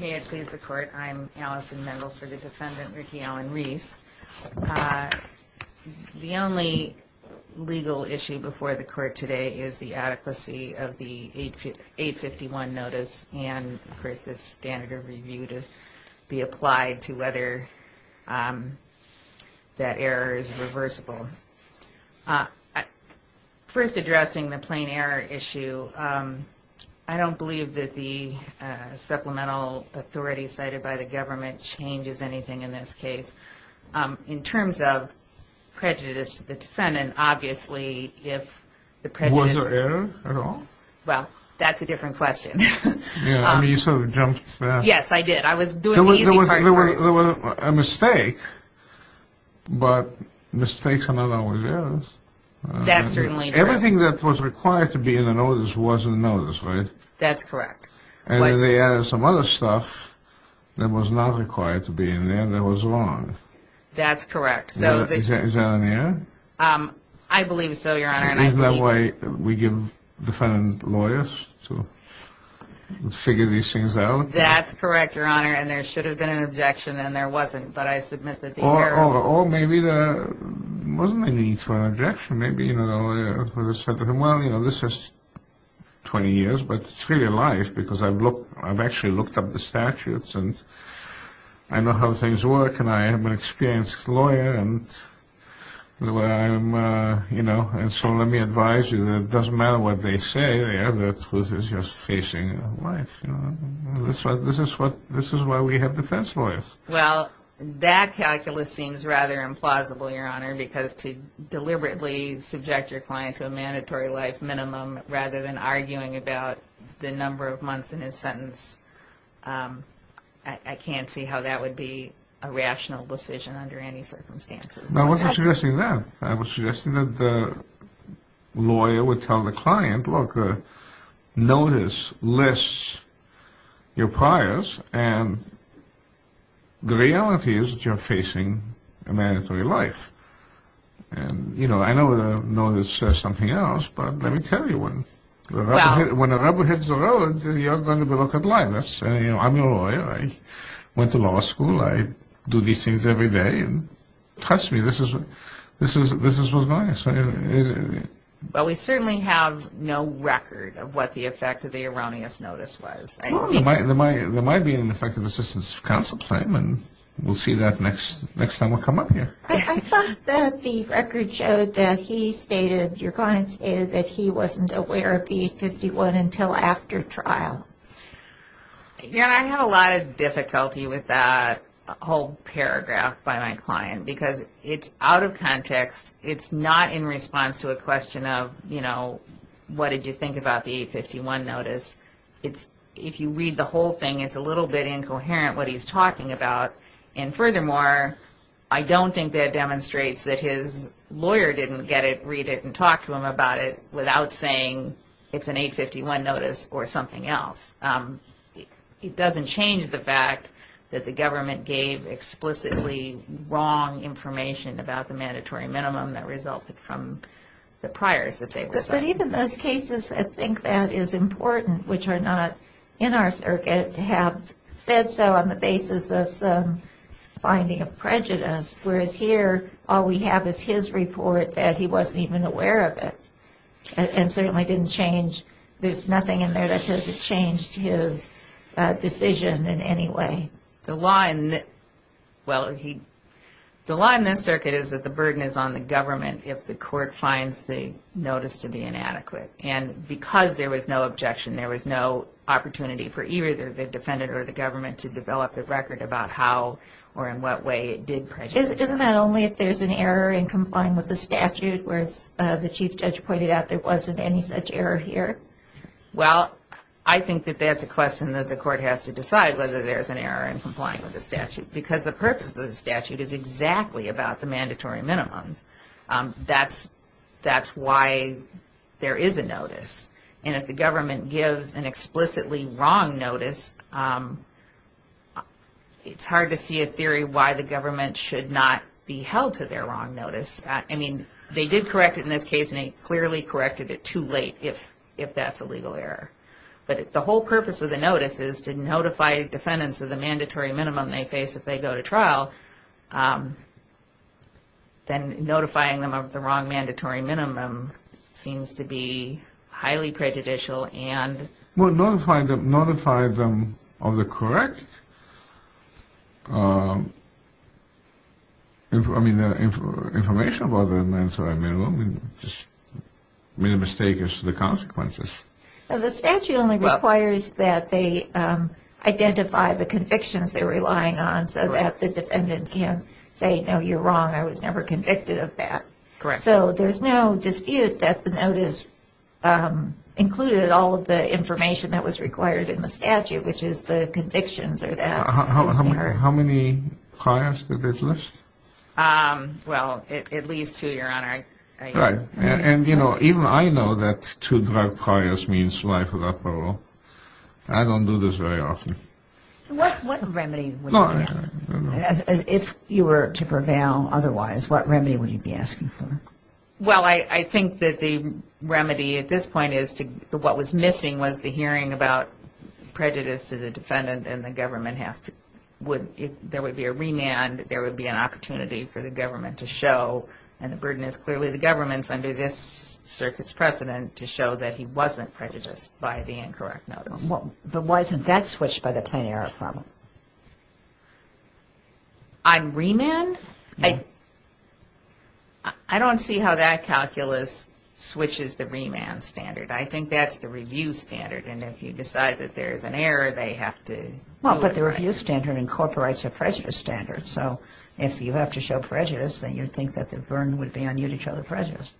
May it please the court, I'm Allison Mendel for the defendant Ricky Allen Reese. The only legal issue before the court today is the adequacy of the 851 notice and of course the standard of review to be applied to whether that error is reversible. First addressing the plain error issue, I don't believe that the supplemental authority cited by the government changes anything in this case. In terms of prejudice to the defendant obviously if the prejudice Was there error at all? Well, that's a different question. Yeah, I mean you sort of jumped to that. Yes, I did. I was doing the easy part first. There was a mistake, but mistakes are not always errors. That's certainly true. Everything that was required to be in the notice was in the notice, right? That's correct. And then they added some other stuff that was not required to be in there that was wrong. That's correct. Is that on here? I believe so, your honor. Isn't that why we give defendant lawyers to figure these things out? That's correct, your honor, and there should have been an objection and there wasn't, but I submit that the error... Or maybe there wasn't a need for an objection. Maybe the lawyer said to him, well, this is 20 years, but it's really life because I've actually looked up the statutes and I know how things work and I am an experienced lawyer. And so let me advise you that it doesn't matter what they say. The truth is you're facing life. This is why we have defense lawyers. Well, that calculus seems rather implausible, your honor, because to deliberately subject your client to a mandatory life minimum rather than arguing about the number of months in his sentence, I can't see how that would be a rational decision under any circumstances. I wasn't suggesting that. I was suggesting that the lawyer would tell the client, look, the notice lists your priors and the reality is that you're facing a mandatory life. I know the notice says something else, but let me tell you, when the rubber hits the road, you're going to be looking like this. I'm a lawyer. I went to law school. I do these things every day. Trust me, this is what's going on. Well, we certainly have no record of what the effect of the erroneous notice was. There might be an effective assistance counsel claim and we'll see that next time we come up here. I thought that the record showed that he stated, your client stated, that he wasn't aware of the 851 until after trial. Your honor, I have a lot of difficulty with that whole paragraph by my client because it's out of context. It's not in response to a question of, you know, what did you think about the 851 notice. If you read the whole thing, it's a little bit incoherent what he's talking about. And furthermore, I don't think that demonstrates that his lawyer didn't get it, read it, and talk to him about it without saying it's an 851 notice or something else. It doesn't change the fact that the government gave explicitly wrong information about the mandatory minimum that resulted from the priors that they were citing. But even those cases, I think that is important, which are not in our circuit, have said so on the basis of some finding of prejudice. Whereas here, all we have is his report that he wasn't even aware of it and certainly didn't change. There's nothing in there that says it changed his decision in any way. The law in this circuit is that the burden is on the government if the court finds the notice to be inadequate. And because there was no objection, there was no opportunity for either the defendant or the government to develop the record about how or in what way it did prejudice. Isn't that only if there's an error in complying with the statute, whereas the chief judge pointed out there wasn't any such error here? Well, I think that that's a question that the court has to decide, whether there's an error in complying with the statute. Because the purpose of the statute is exactly about the mandatory minimums. That's why there is a notice. And if the government gives an explicitly wrong notice, it's hard to see a theory why the government should not be held to their wrong notice. I mean, they did correct it in this case, and they clearly corrected it too late if that's a legal error. But if the whole purpose of the notice is to notify defendants of the mandatory minimum they face if they go to trial, then notifying them of the wrong mandatory minimum seems to be highly prejudicial and... If the court notified them of the correct information about the mandatory minimum, they just made a mistake as to the consequences. The statute only requires that they identify the convictions they're relying on so that the defendant can say, no, you're wrong, I was never convicted of that. Correct. So there's no dispute that the notice included all of the information that was required in the statute, which is the convictions or the... How many priors did it list? Well, at least two, Your Honor. Right. And, you know, even I know that two drug priors means life without parole. I don't do this very often. What remedy would you have? Well, I think that the remedy at this point is what was missing was the hearing about prejudice to the defendant and the government has to... If there would be a remand, there would be an opportunity for the government to show, and the burden is clearly the government's under this circuit's precedent, to show that he wasn't prejudiced by the incorrect notice. But wasn't that switched by the plenary reform? On remand? I don't see how that calculus switches the remand standard. I think that's the review standard, and if you decide that there's an error, they have to... Well, but the review standard incorporates a prejudice standard, so if you have to show prejudice, then you think that the burden would be on you to show the prejudice.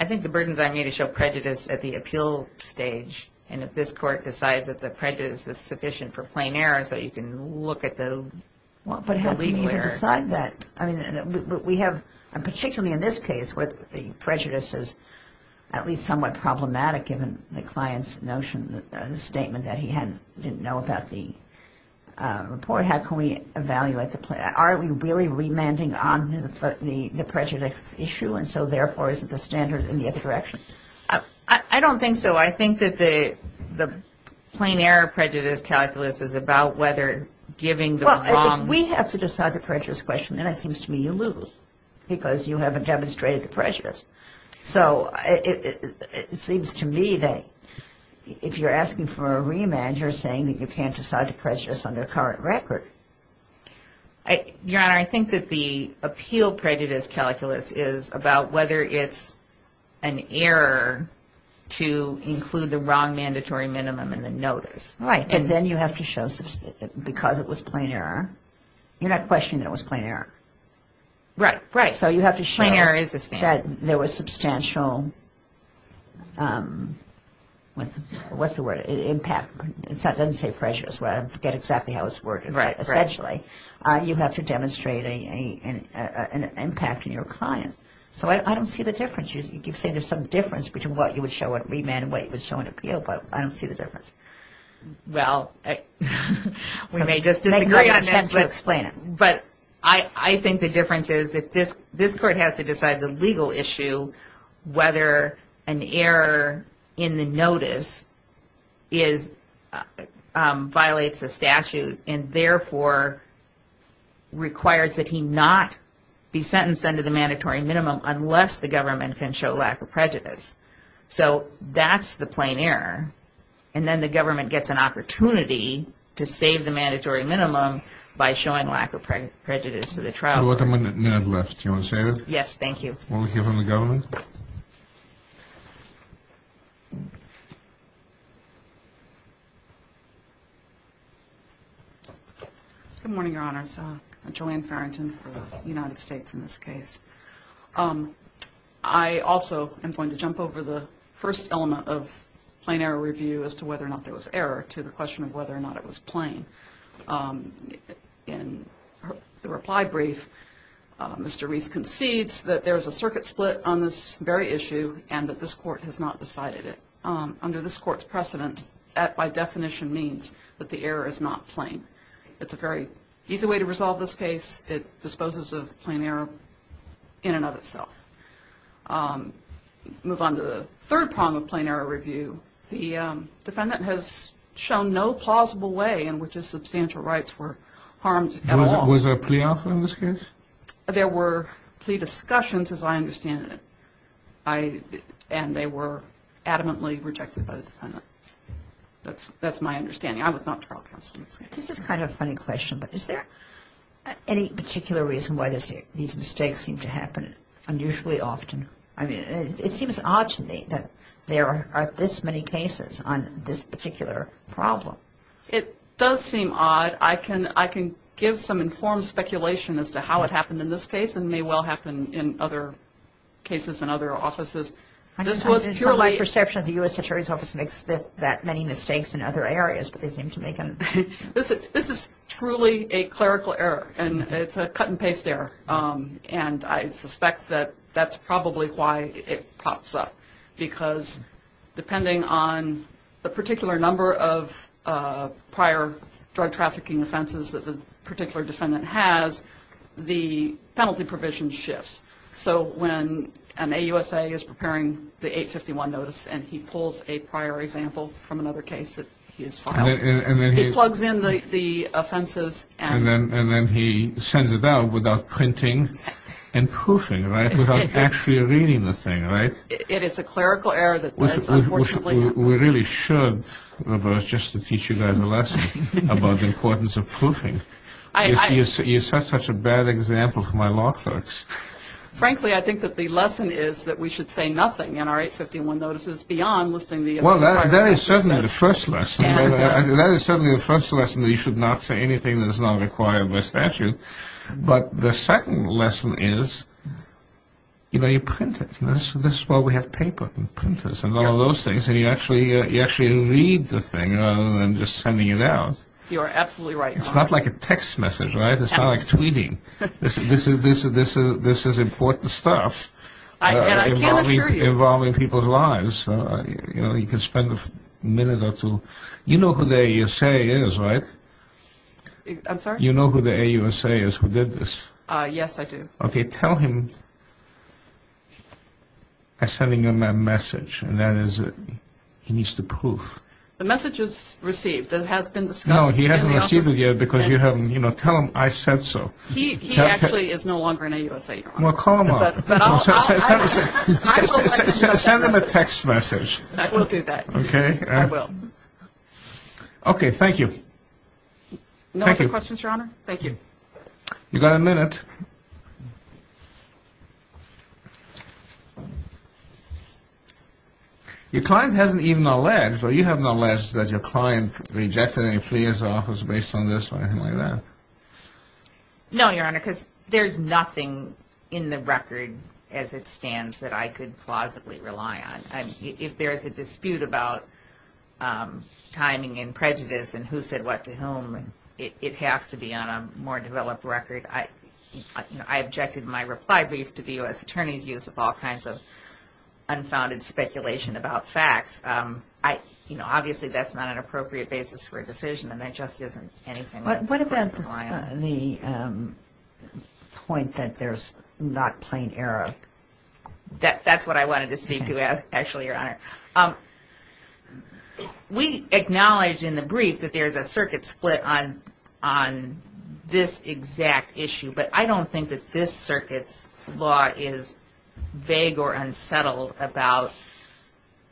I think the burden is on me to show prejudice at the appeal stage, and if this court decides that the prejudice is sufficient for plain error so you can look at the... Well, but how can you decide that? I mean, we have, particularly in this case where the prejudice is at least somewhat problematic given the client's notion, the statement that he didn't know about the report. How can we evaluate the... Are we really remanding on the prejudice issue, and so therefore is it the standard in the other direction? I don't think so. So I think that the plain error prejudice calculus is about whether giving the wrong... Well, if we have to decide the prejudice question, then it seems to me you lose because you haven't demonstrated the prejudice. So it seems to me that if you're asking for a remand, you're saying that you can't decide the prejudice on the current record. Your Honor, I think that the appeal prejudice calculus is about whether it's an error to include the wrong mandatory minimum in the notice. Right, and then you have to show... Because it was plain error, you're not questioning that it was plain error. Right, right. So you have to show... Plain error is a standard. ...that there was substantial... What's the word? It doesn't say prejudice. I forget exactly how it's worded. Right, right. Essentially, you have to demonstrate an impact on your client. So I don't see the difference. You say there's some difference between what you would show a remand and what you would show an appeal, but I don't see the difference. Well, we may just disagree on this, but... I'm trying to explain it. But I think the difference is if this court has to decide the legal issue, whether an error in the notice violates the statute and therefore requires that he not be sentenced under the mandatory minimum unless the government can show lack of prejudice. So that's the plain error, and then the government gets an opportunity to save the mandatory minimum by showing lack of prejudice to the trial court. We have one minute left. Do you want to save it? Yes, thank you. Will we hear from the government? Good morning, Your Honors. I'm Joanne Farrington for the United States in this case. I also am going to jump over the first element of plain error review as to whether or not there was error to the question of whether or not it was plain. In the reply brief, Mr. Reese concedes that there is a circuit split on this very issue and that this court has not decided it. Under this court's precedent, that by definition means that the error is not plain. It's a very easy way to resolve this case. It disposes of plain error in and of itself. Move on to the third prong of plain error review. The defendant has shown no plausible way in which his substantial rights were harmed at all. Was there a plea offer in this case? There were plea discussions, as I understand it, and they were adamantly rejected by the defendant. That's my understanding. I was not trial counsel in this case. This is kind of a funny question, but is there any particular reason why these mistakes seem to happen unusually often? I mean, it seems odd to me that there are this many cases on this particular problem. It does seem odd. I can give some informed speculation as to how it happened in this case and may well happen in other cases and other offices. This was purely — It's my perception that the U.S. Attorney's Office makes that many mistakes in other areas, but they seem to make them — This is truly a clerical error, and it's a cut-and-paste error, and I suspect that that's probably why it pops up, because depending on the particular number of prior drug-trafficking offenses that the particular defendant has, the penalty provision shifts. So when an AUSA is preparing the 851 notice and he pulls a prior example from another case that he has filed, he plugs in the offenses and — and poofing, right, without actually reading the thing, right? It is a clerical error that does, unfortunately — We really should reverse just to teach you guys a lesson about the importance of poofing. You set such a bad example for my law clerks. Frankly, I think that the lesson is that we should say nothing in our 851 notices beyond listing the — Well, that is certainly the first lesson. That is certainly the first lesson, that you should not say anything that is not required by statute. But the second lesson is, you know, you print it. This is why we have paper and printers and all those things, and you actually read the thing rather than just sending it out. You are absolutely right. It's not like a text message, right? It's not like tweeting. This is important stuff involving people's lives. You know, you can spend a minute or two. You know who the AUSA is, right? I'm sorry? You know who the AUSA is who did this? Yes, I do. Okay. Tell him I'm sending him a message, and that is he needs to poof. The message is received. It has been discussed in the office. No, he hasn't received it yet because you haven't, you know, tell him I said so. He actually is no longer an AUSA, Your Honor. Well, call him up. I will do that. Send him a text message. I will do that. Okay? I will. Okay. Thank you. No other questions, Your Honor? Thank you. You've got a minute. Your client hasn't even alleged, or you haven't alleged that your client rejected any pleas or offers based on this or anything like that? No, Your Honor, because there's nothing in the record as it stands that I could plausibly rely on. If there is a dispute about timing and prejudice and who said what to whom, it has to be on a more developed record. I objected in my reply brief to the U.S. Attorney's use of all kinds of unfounded speculation about facts. Obviously, that's not an appropriate basis for a decision, and that just isn't anything I could rely on. What about the point that there's not plain error? That's what I wanted to speak to, actually, Your Honor. We acknowledge in the brief that there's a circuit split on this exact issue, but I don't think that this circuit's law is vague or unsettled about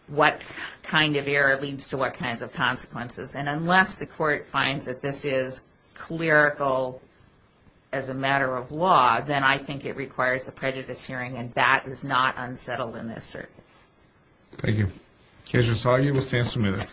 what kind of error leads to what kinds of consequences. And unless the court finds that this is clerical as a matter of law, then I think it requires a prejudice hearing, and that is not unsettled in this circuit. Thank you. Judge Rosario will stand submitted.